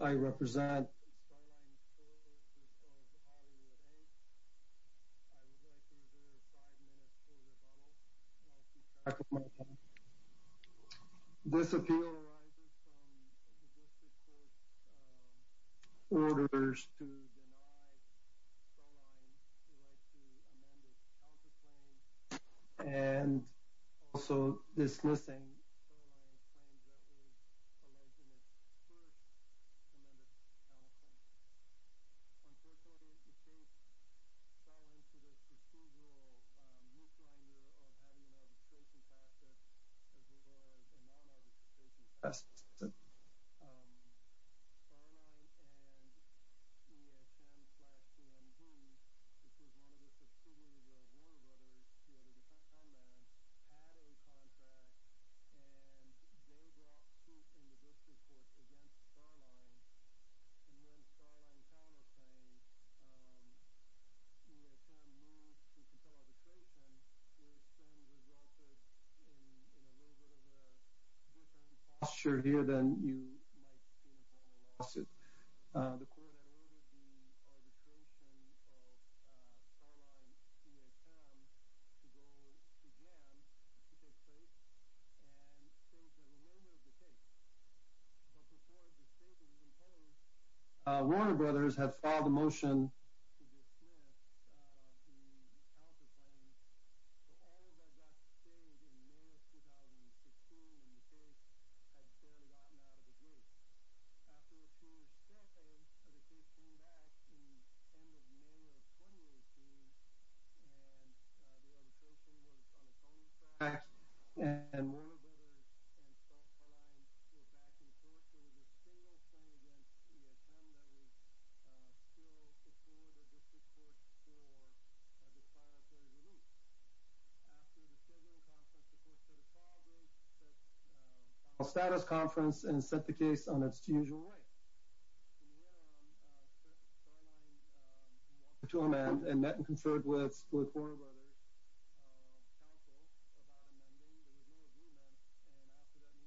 I represent Starline Tours of Hollywood 8. I would like to reserve 5 minutes for rebuttal, and I'll keep track of my time. This appeal arises from the District Court's orders to deny Starline the right to amend its counterclaims, and also dismissing Starline's claims that it was alleged in its first amended counterclaims. Unfortunately, the case fell into the procedural moot grinder of having an arbitration process as well as a non-arbitration process. Starline and TSM-DMG, which was one of the subsidiaries of Warner Brothers, had a contract, and they brought suit in the District Court against Starline. And when Starline counterclaimed, TSM moved to compel arbitration, which then resulted in a little bit of a return to politics. The court had ordered the arbitration of Starline and TSM to go to jams to take place, and things had a little bit of a take. But before the state was imposed, Warner Brothers had filed a motion to dismiss the counterclaims. But all of that got changed in May of 2016, and the case had barely gotten out of the gate. After a two-year stint, the case came back at the end of May of 2018, and the arbitration was on its own track. Warner Brothers and Starline were back in court, but there was a single claim against TSM that was still before the District Court for a disciplinary moot. After the scheduling conference, the court set a call break, set a status conference, and set the case on its usual way. In the interim, Starline wanted to amend and met and conferred with Warner Brothers' counsel about amending. There was no agreement, and after that meeting was closed as well, Starline filed its motion to move to amend to file a second amended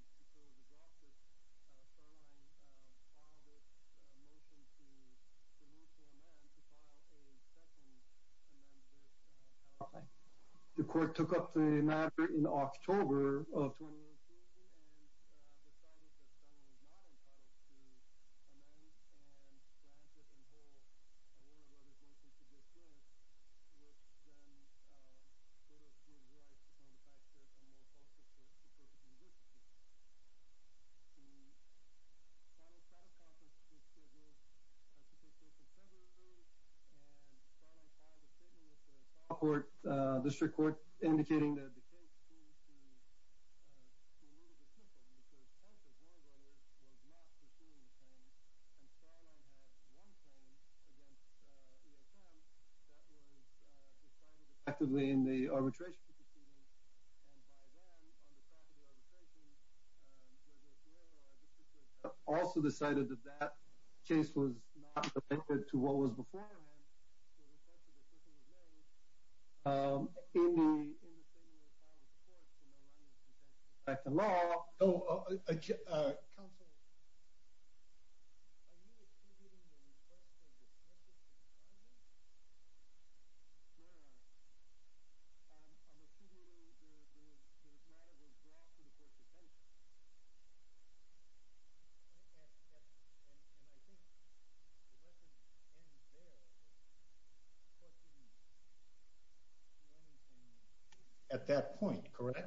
counterclaim. The court took up the matter in October of 2018, and decided that Starline was not entitled to amend and grant or withhold Warner Brothers' motion to dismiss, which then would have given the right to come back to a more full-fledged court to proceed with the case. The final status conference was scheduled to take place in February, and Starline filed a statement with the Supreme Court. The District Court, indicating that the case seems to need a dismissal because part of Warner Brothers was not pursuing the claim, and Starline had one claim against TSM that was decided effectively in the arbitration proceedings, and by then, on the track of the arbitration, Judge O'Neill or our District Court judge also decided that that case was not related to what was before him. In the statement filed with the courts, in the line of defense of the fact of the law, counsel, are you executing the request for dismissal from Starline? No, Your Honor. I'm assuming the matter was brought to the court's attention, and I think the lesson ends there. What do you mean? At that point, correct? Well, not exactly,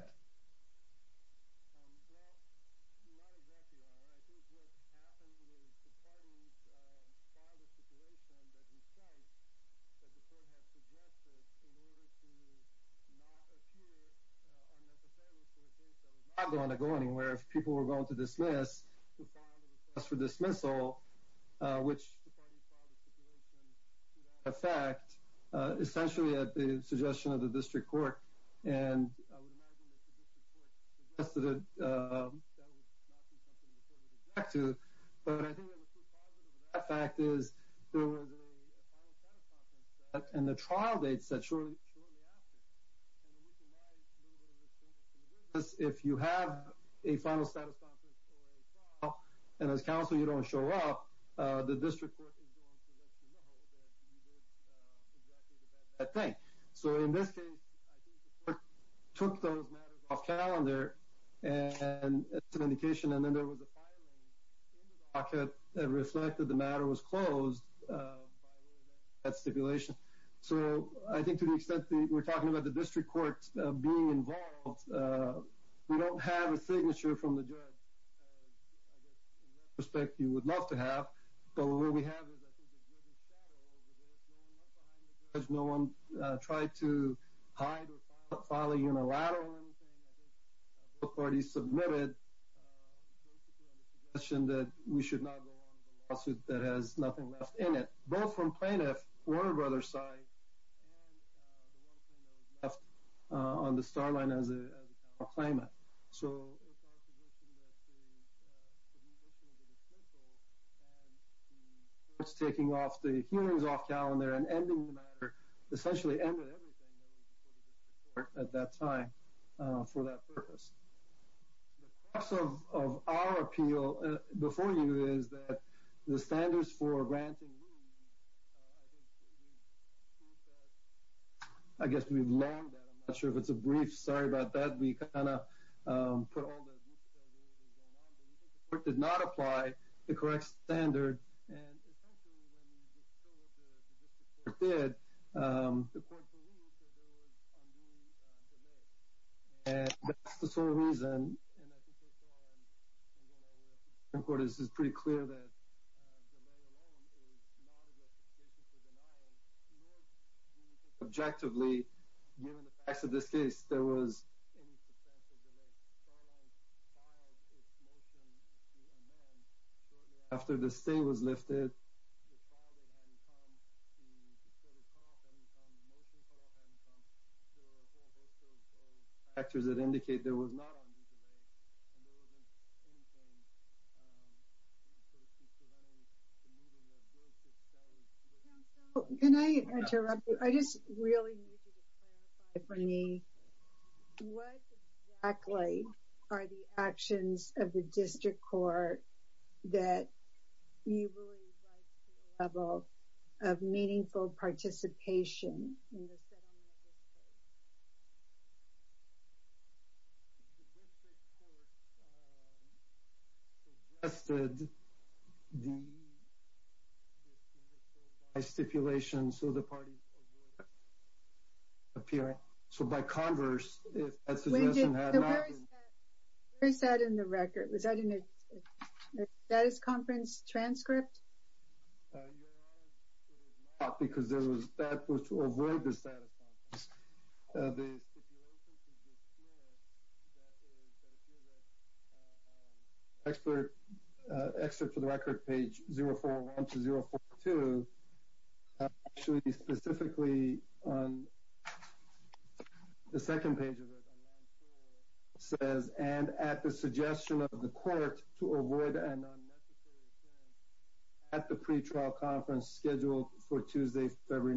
Your Honor. I think what happened was the parties filed a stipulation that the court had suggested in order to not appear unnecessarily for a case that was not going to go anywhere. If people were going to dismiss, to file a request for dismissal, which the parties filed a stipulation to that effect, essentially at the suggestion of the District Court, and I would imagine that the District Court suggested that that would not be something the court would object to, but I think that the true positive of that fact is there was a final status conference set, and the trial date is set shortly after. If you have a final status conference or a trial, and as counsel you don't show up, the District Court is going to let you know that you did exactly the bad, bad thing. So in this case, I think the court took those matters off calendar, and it's an indication. And then there was a filing in the docket that reflected the matter was closed by way of that stipulation. So I think to the extent that we're talking about the District Court being involved, we don't have a signature from the judge. I guess, in retrospect, you would love to have. But what we have is, I think, there's a shadow over this. No one left behind the judge. No one tried to hide or file a unilateral or anything. I think both parties submitted basically on the suggestion that we should not go on with a lawsuit that has nothing left in it. Both from plaintiff Warner Brothers' side and the one thing that was left on the star line as a claimant. So it's our position that the submission of the dismissal and the courts taking off the hearings off calendar and ending the matter, essentially ended everything that was before the District Court at that time for that purpose. The crux of our appeal before you is that the standards for granting leave, I think we've proved that. I guess we've learned that. I'm not sure if it's a brief. Sorry about that. We kind of put all the rules that were going on, but we think the court did not apply the correct standard. And essentially, when we were told that the District Court did, the court believed that there was a new delay. And that's the sole reason, and I think we saw in one of our Supreme Court cases, it's pretty clear that delay alone is not a justification for denial. Nor do we think objectively, given the facts of this case, there was any substantial delay. Starline filed its motion to amend shortly after the stay was lifted. The file that hadn't come to sort of cut off, hadn't come, the motion cut off, hadn't come. There were a whole host of factors that indicate there was not on these delays. And there wasn't anything in terms of preventing the moving of goods itself. Can I interrupt you? I just really need you to clarify for me. What exactly are the actions of the District Court that you believe rise to the level of meaningful participation in the settlement of this case? The District Court suggested the, by stipulation, so the parties would appear. So by converse, if that suggestion had not been... So where is that in the record? Was that in the status conference transcript? Your Honor, it was not, because that was to avoid the status conference. The stipulation to the District Court that appears at Excerpt for the Record, page 041 to 042, actually specifically on the second page of it, on line 4, says, and at the suggestion of the court to avoid an unnecessary attempt at the pre-trial conference scheduled for Tuesday, February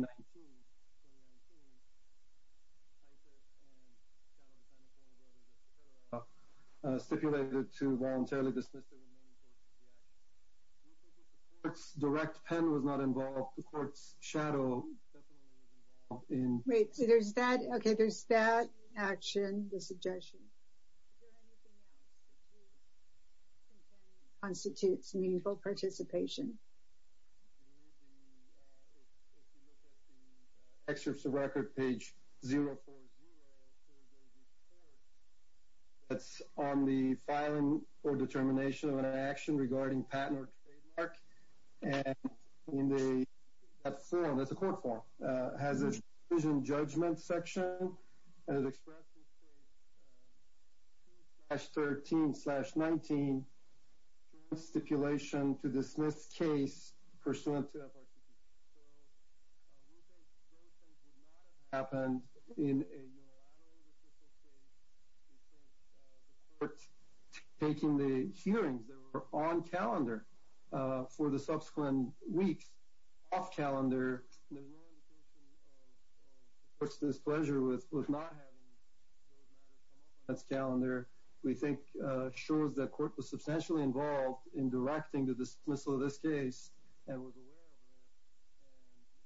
19, stipulated to voluntarily dismiss the remaining courts for the action. The court's direct pen was not involved. The court's shadow definitely was involved. Wait, so there's that, okay, there's that action, the suggestion. Is there anything else that you think constitutes meaningful participation? If you look at the Excerpt for the Record, page 040, there's a report that's on the filing or determination of an action regarding patent or trademark, and in that form, that's a court form, it has a decision judgment section, and it expresses page 2-13-19, stipulation to dismiss case pursuant to FRCP. So we think those things would not have happened in a unilateral judicial case, we think the court taking the hearings that were on calendar for the subsequent weeks off calendar, there's no indication of the court's displeasure with not having those matters come up on its calendar, we think shows that court was substantially involved in directing the dismissal of this case and was aware of it, and we consider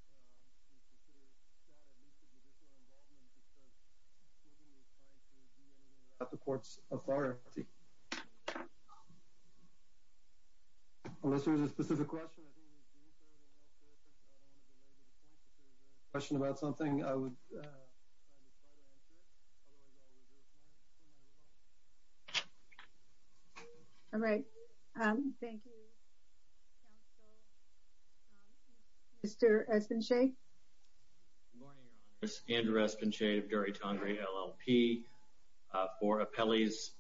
that at least a judicial involvement because nobody was trying to be in or out of the court's authority. Unless there was a specific question, I think it was June 3rd, and I don't want to belabor the point, but if there was a question about something, I would try to try to answer it, otherwise I'll reserve my time. All right. Thank you, counsel. Mr. Espinche? Good morning, Your Honor. This is Andrew Espinche of Dury Tongari LLP, for Apelli's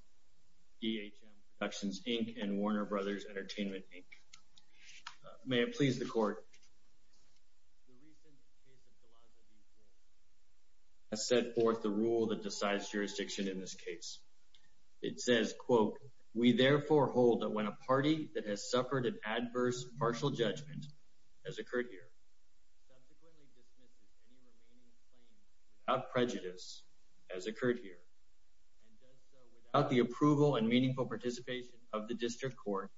EHM Productions, Inc., and Warner Brothers Entertainment, Inc. May it please the court, the recent case of DeLazio v. Ward has set forth the rule that decides jurisdiction in this case. It says, quote, We therefore hold that when a party that has suffered an adverse partial judgment, as occurred here, subsequently dismisses any remaining claims without prejudice, as occurred here, and does so without the approval and meaningful participation of the district court,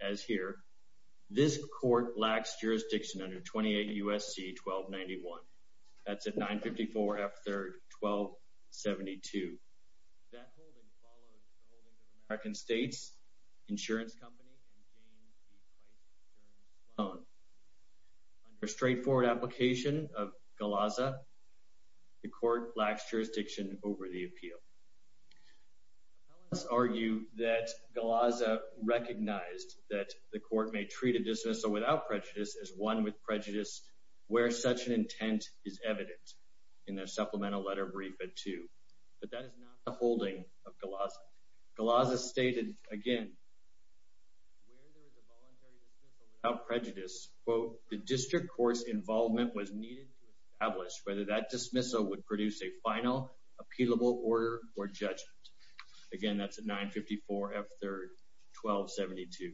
as here, this court lacks jurisdiction under 28 U.S.C. 1291. That's at 954 F. 3rd, 1272. That holding follows the holding of American States Insurance Company and James B. Price Insurance Loan. Under straightforward application of GALAZA, the court lacks jurisdiction over the appeal. Appellants argue that GALAZA recognized that the court may treat a dismissal without prejudice as one with prejudice, where such an intent is evident in their supplemental letter briefed at 2. But that is not the holding of GALAZA. GALAZA stated, again, where there is a voluntary dismissal without prejudice, quote, The district court's involvement was needed to establish whether that dismissal would produce a final, appealable order or judgment. Again, that's at 954 F. 3rd, 1272.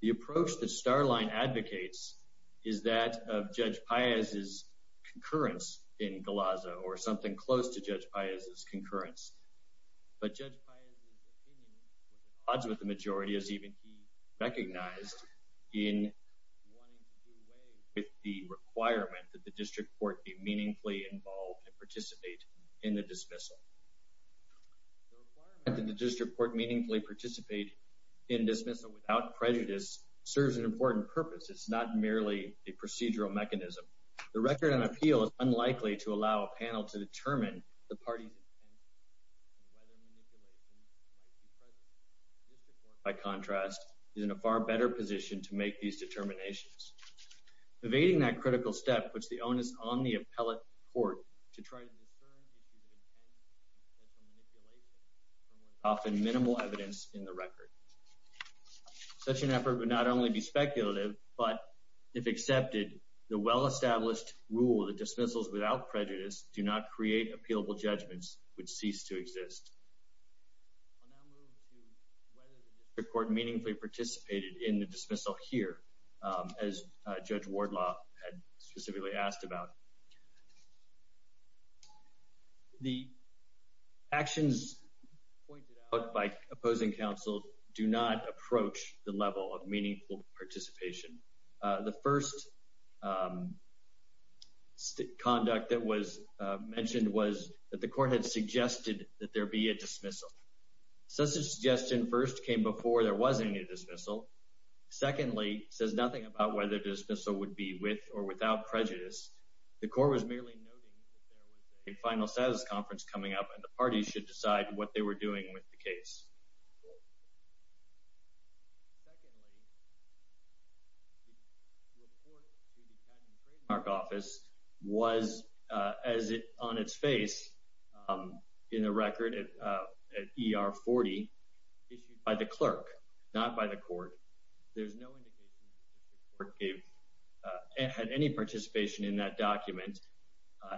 The approach that Starline advocates is that of Judge Paez's concurrence in GALAZA, But Judge Paez's opinion was at odds with the majority, as even he recognized, in wanting to do away with the requirement that the district court be meaningfully involved and participate in the dismissal. The requirement that the district court meaningfully participate in dismissal without prejudice serves an important purpose. It's not merely a procedural mechanism. The record on appeal is unlikely to allow a panel to determine the party's intent and whether manipulation might be present. The district court, by contrast, is in a far better position to make these determinations. Evading that critical step puts the onus on the appellate court to try to discern issues of intent instead of manipulation, from what is often minimal evidence in the record. Such an effort would not only be speculative, but if accepted, the well-established rule that dismissals without prejudice do not create appealable judgments would cease to exist. I'll now move to whether the district court meaningfully participated in the dismissal here, as Judge Wardlaw had specifically asked about. The actions pointed out by opposing counsel do not approach the level of meaningful participation. The first conduct that was mentioned was that the court had suggested that there be a dismissal. Such a suggestion first came before there was any dismissal. Secondly, it says nothing about whether the dismissal would be with or without prejudice. The court was merely noting that there was a final status conference coming up, and the parties should decide what they were doing with the case. Secondly, the report to the county trademark office was on its face in the record at ER 40 issued by the clerk, not by the court. There's no indication that the district court had any participation in that document.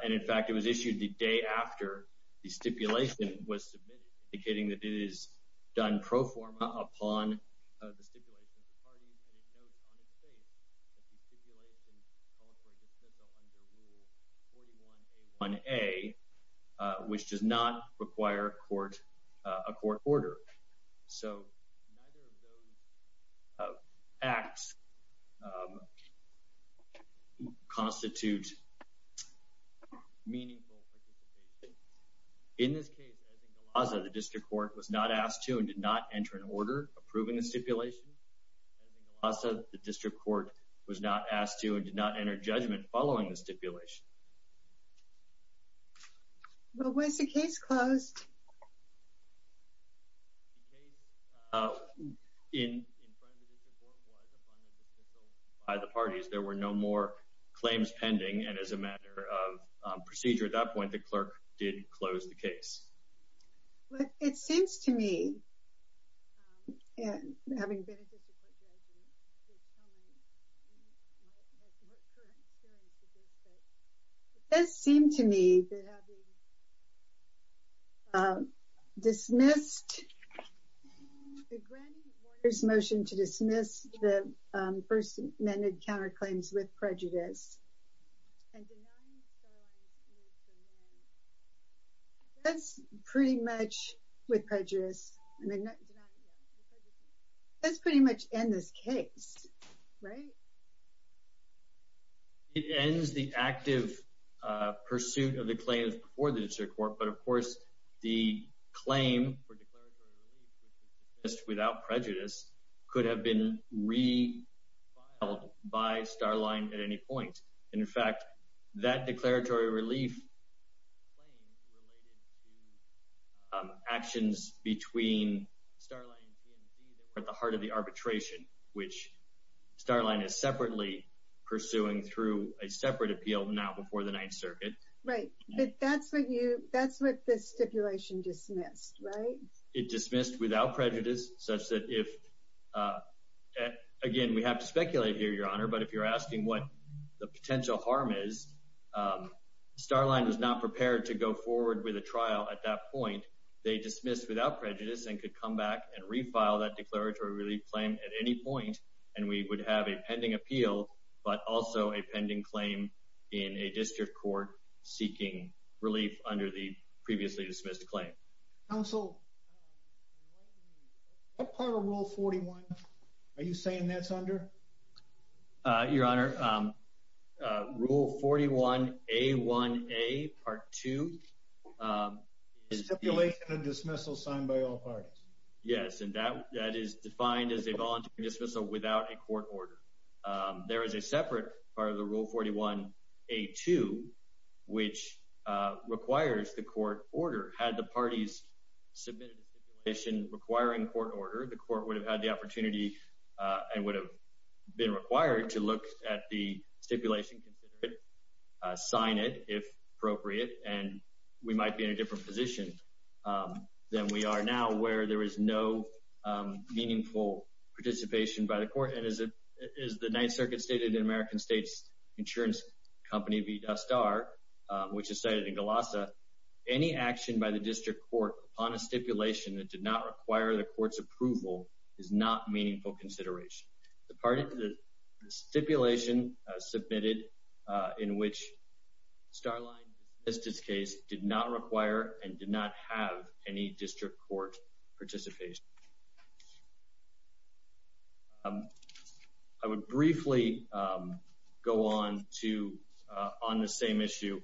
In fact, it was issued the day after the stipulation was submitted, indicating that it is done pro forma upon the stipulation of the parties, and it notes on its face that the stipulation called for a dismissal under Rule 41A1A, which does not require a court order. So, neither of those acts constitute meaningful participation. In this case, as in Galazza, the district court was not asked to and did not enter an order approving the stipulation. As in Galazza, the district court was not asked to and did not enter judgment following the stipulation. Well, was the case closed? The case in front of the district court was, upon a dismissal by the parties. There were no more claims pending, and as a matter of procedure at that point, the clerk did close the case. Well, it seems to me, having been a district court judge, it does seem to me that having dismissed the granting order's motion to dismiss the First Amendment counterclaims with prejudice, and denying Starline's move to amend, that's pretty much in this case, right? It ends the active pursuit of the claims before the district court, but of course, the claim for declaratory relief, which was dismissed without prejudice, could have been refiled by Starline at any point. In fact, that declaratory relief claim related to actions between Starline and TMZ that were at the heart of the arbitration, which Starline is separately pursuing through a separate appeal now before the Ninth Circuit. Right, but that's what this stipulation dismissed, right? It dismissed without prejudice, such that if, again, we have to speculate here, Your Honor, but if you're asking what the potential harm is, Starline was not prepared to go forward with a trial at that point. They dismissed without prejudice and could come back and refile that declaratory relief claim at any point, and we would have a pending appeal, but also a pending claim in a district court seeking relief under the previously dismissed claim. Counsel, what part of Rule 41 are you saying that's under? Your Honor, Rule 41A1A Part 2. Stipulation of dismissal signed by all parties. Yes, and that is defined as a voluntary dismissal without a court order. There is a separate part of the Rule 41A2, which requires the court order. Had the parties submitted a stipulation requiring court order, the court would have had the opportunity and would have been required to look at the stipulation, consider it, sign it if appropriate, and we might be in a different position than we are now where there is no meaningful participation by the court and, as the Ninth Circuit stated in American States Insurance Company v. Dustar, which is cited in Galassa, any action by the district court upon a stipulation that did not require the court's approval is not meaningful consideration. The stipulation submitted in which Starline dismissed its case did not require and did not have any district court participation. I would briefly go on to on the same issue.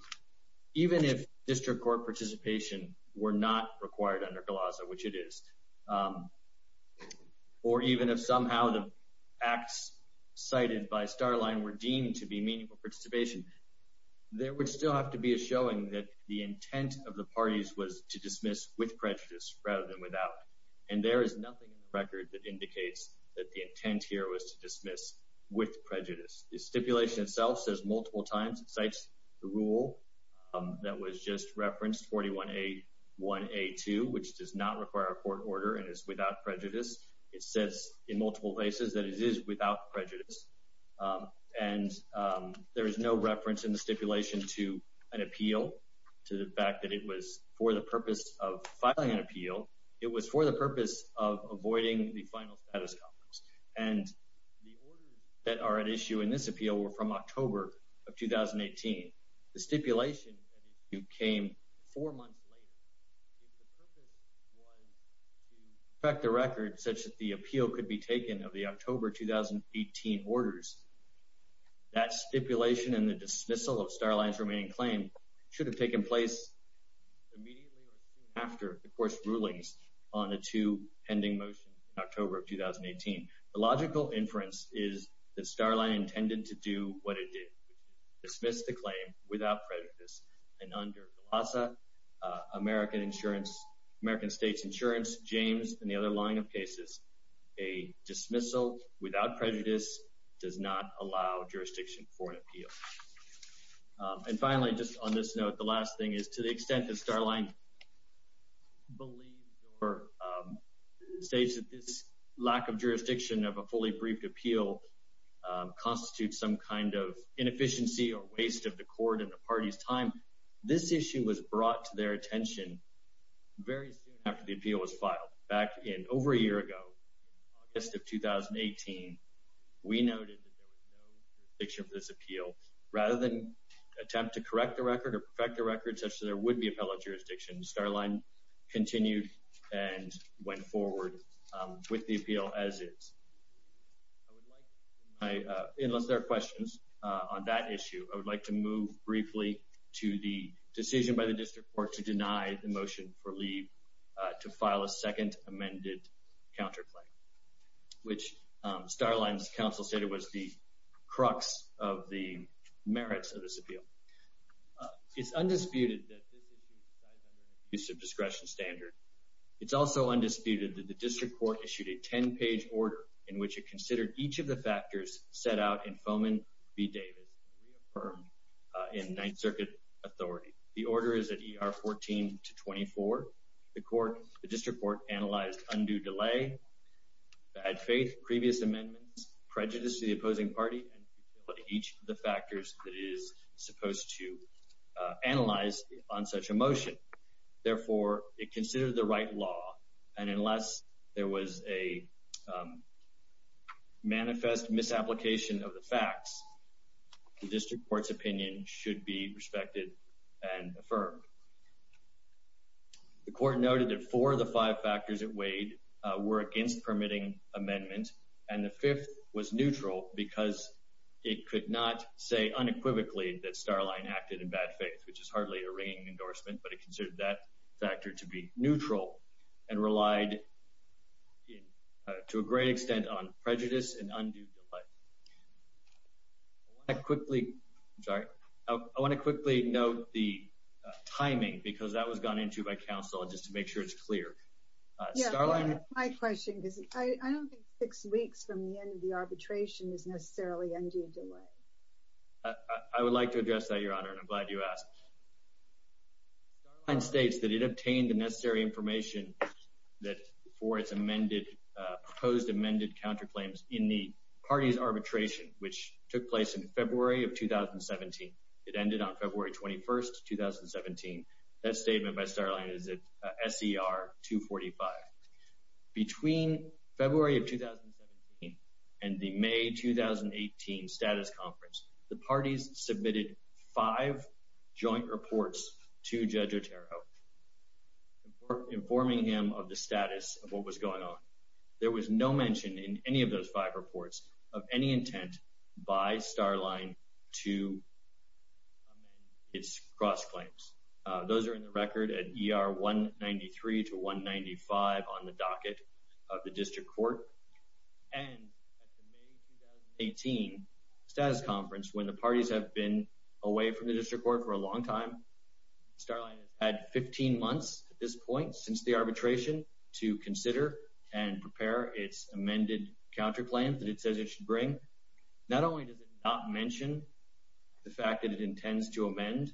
Even if district court participation were not required under Galassa, which it is, or even if somehow the acts cited by Starline were deemed to be meaningful participation, there would still have to be a showing that the intent of the parties was to dismiss with prejudice rather than without, and there is nothing in the record that indicates that the intent here was to dismiss with prejudice. The stipulation itself says multiple times, it cites the rule that was just referenced, 41A1A2, which does not require a court order and is without prejudice. It says in multiple places that it is without prejudice, and there is no reference in the stipulation to an appeal, to the fact that it was for the purpose of filing an appeal. It was for the purpose of avoiding the final status complex, and the orders that are at issue in this appeal were from October of 2018. The stipulation at issue came four months later. If the purpose was to protect the record such that the appeal could be taken of the October 2018 orders, that stipulation and the dismissal of Starline's remaining claim should have taken place immediately or soon after the court's rulings on the two pending motions in October of 2018. The logical inference is that Starline intended to do what it did, which is dismiss the claim without prejudice, and under the LASA, American States Insurance, James, and the other line of cases, a dismissal without prejudice does not allow jurisdiction for an appeal. And finally, just on this note, the last thing is to the extent that Starline believes or states that this lack of jurisdiction of a fully briefed appeal constitutes some kind of inefficiency or waste of the court and the party's time, this issue was brought to their attention very soon after the appeal was filed. Back in over a year ago, August of 2018, we noted that there was no jurisdiction for this appeal. Rather than attempt to correct the record or perfect the record such that there would be appellate jurisdiction, Starline continued and went forward with the appeal as is. Unless there are questions on that issue, I would like to move briefly to the decision by the district court to deny the motion for leave to file a second amended counterclaim, which Starline's counsel stated was the crux of the merits of this appeal. It's undisputed that this issue resides under an abuse of discretion standard. It's also undisputed that the district court issued a 10-page order in which it considered each of the factors set out in Foman v. Davis and reaffirmed in Ninth Circuit authority. The order is at ER 14-24. The district court analyzed undue delay, bad faith, previous amendments, prejudice to the opposing party, and each of the factors that it is supposed to analyze on such a motion. Therefore, it considered the right law, and unless there was a manifest misapplication of the facts, the district court's opinion should be respected and affirmed. The court noted that four of the five factors it weighed were against permitting amendment, and the fifth was neutral because it could not say unequivocally that Starline acted in bad faith, which is hardly a ringing endorsement, but it considered that factor to be neutral and relied to a great extent on prejudice and undue delay. I want to quickly note the timing because that was gone into by counsel just to make sure it's clear. Starline... Yeah, that's my question because I don't think six weeks from the end of the arbitration is necessarily undue delay. I would like to address that, Your Honor, and I'm glad you asked. Starline states that it obtained the necessary information for its proposed amended counterclaims in the party's arbitration, which took place in February of 2017. It ended on February 21, 2017. That statement by Starline is at SER 245. Between February of 2017 and the May 2018 status conference, the parties submitted five joint reports to Judge Otero informing him of the status of what was going on. There was no mention in any of those five reports of any intent by Starline to amend its cross-claims. Those are in the record at ER 193 to 195 on the docket of the district court. And at the May 2018 status conference, when the parties have been away from the district court for a long time, Starline has had 15 months at this point since the arbitration to consider and prepare its amended counterclaims that it says it should bring. Not only does it not mention the fact that it intends to amend,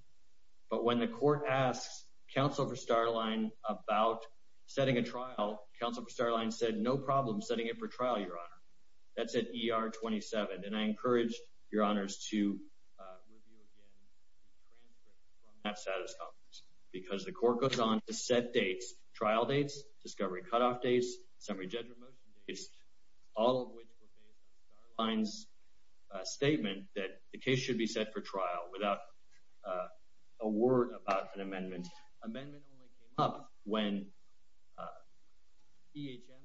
but when the court asks counsel for Starline about setting a trial, counsel for Starline said no problem setting it for trial, Your Honor. That's at ER 27. And I encourage Your Honors to review again the transcript from that status conference, because the court goes on to set dates, trial dates, discovery cutoff dates, summary judgment motion dates, all of which were based on Starline's statement that the case should be set for trial without a word about an amendment. Amendment only came up when EHM's counsel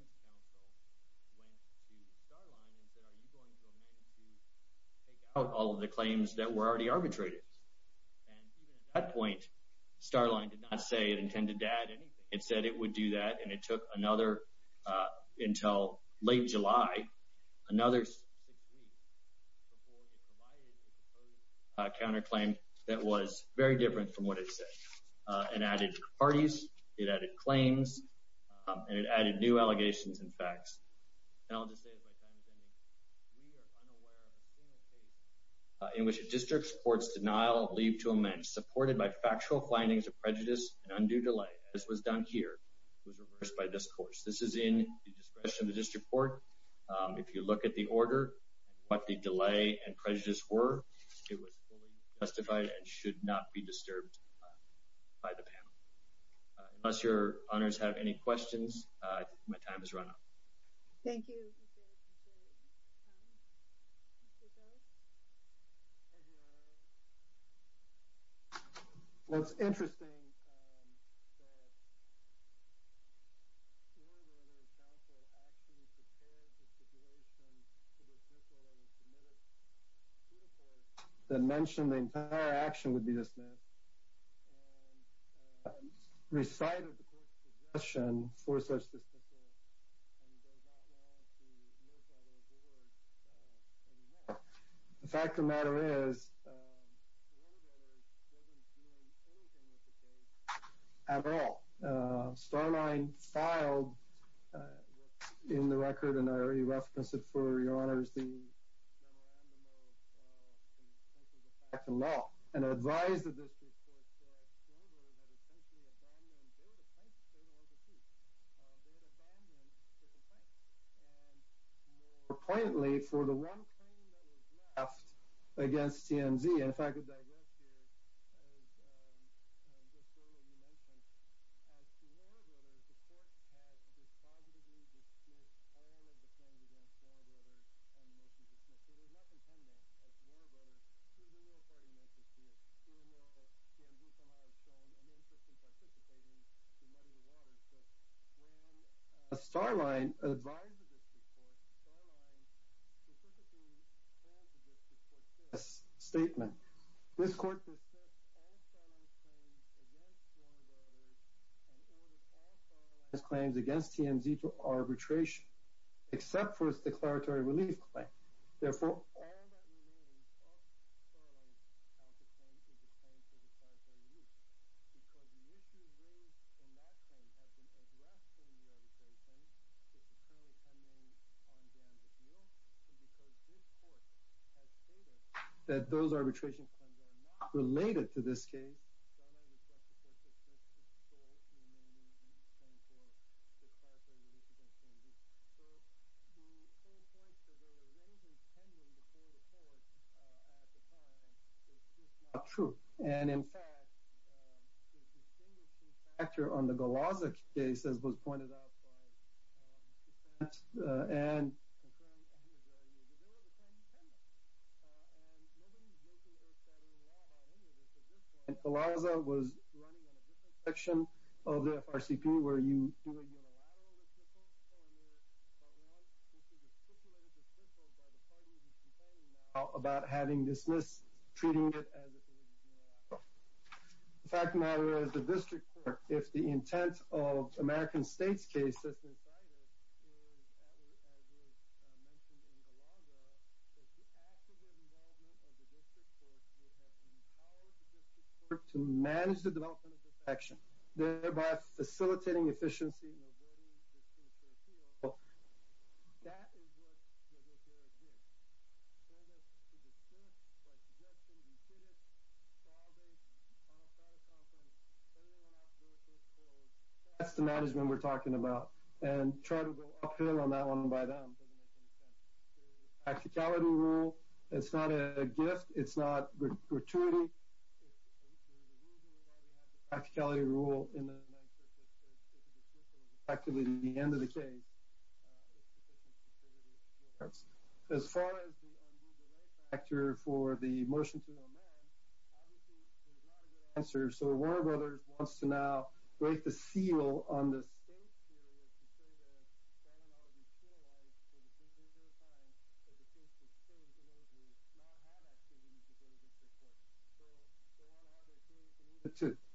went to Starline and said, are you going to amend to take out all of the claims that were already arbitrated? And even at that point, Starline did not say it intended to add anything. It said it would do that, and it took another until late July, another six weeks before it provided a counterclaim that was very different from what it said. It added parties, it added claims, and it added new allegations and facts. And I'll just say as my time is ending, we are unaware of a single case in which a district supports denial of leave to amend, which is supported by factual findings of prejudice and undue delay, as was done here. It was reversed by this court. This is in the discretion of the district court. If you look at the order and what the delay and prejudice were, it was fully justified and should not be disturbed by the panel. Unless Your Honors have any questions, my time has run out. Thank you. The fact of the matter is, after all, Starline filed in the record, and I already referenced it for Your Honors, the memorandum of confidentiality of facts and law, and advised the district court that Florida voters had essentially abandoned, they were the plaintiffs, they were the ones who sued. They had abandoned the complaint. And more poignantly, for the one claim that was left against TMZ, and if I could digress here, as just earlier you mentioned, as Florida voters, the court has dispositively dismissed all of the claims against Florida voters They did not contend that as Florida voters, even though a party member sued, even though TMZ somehow has shown an interest in participating to muddy the waters. So when Starline advised the district court, Starline specifically told the district court this statement. This court dismissed all Starline's claims against Florida voters and ordered all Starline's claims against TMZ to arbitration, except for its declaratory relief claim. Therefore, that those arbitration claims are not related to this case. So the whole point that there was anything pending before the court at the time is just not true. And in fact, the distinguishing factor on the Golaza case, as was pointed out by defense, and Golaza was running on a different section of the FRCP, where you about having dismissed, treating it as a fact matter is the district court. If the intent of American States case to manage the development of the section, thereby facilitating efficiency. That's the management we're talking about. And try to go uphill on that one by them. Practicality rule, it's not a gift. It's not gratuity. Practicality. Practicality rule. Practically the end of the case. As far as the actor for the motion to amend, answer. So Warner Brothers wants to now break the seal on this.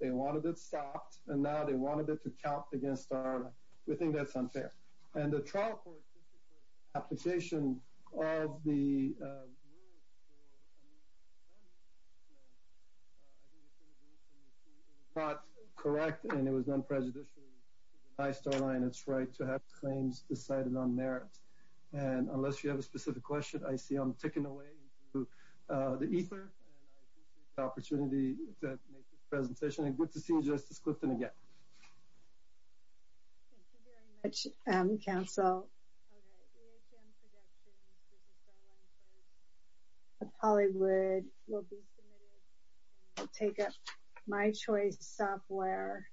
They wanted it stopped. And now they wanted it to count against our, we think that's unfair. And the trial court application of the not correct. And it was non-prejudicial. I storyline it's right to have claims decided on merit. And unless you have a specific question, I see I'm taking away the ether. Thank you for the opportunity to make this presentation and good to see you. Justice Clifton. Again. Thank you very much. Counsel. Hollywood will be. Take up my choice software. Versus.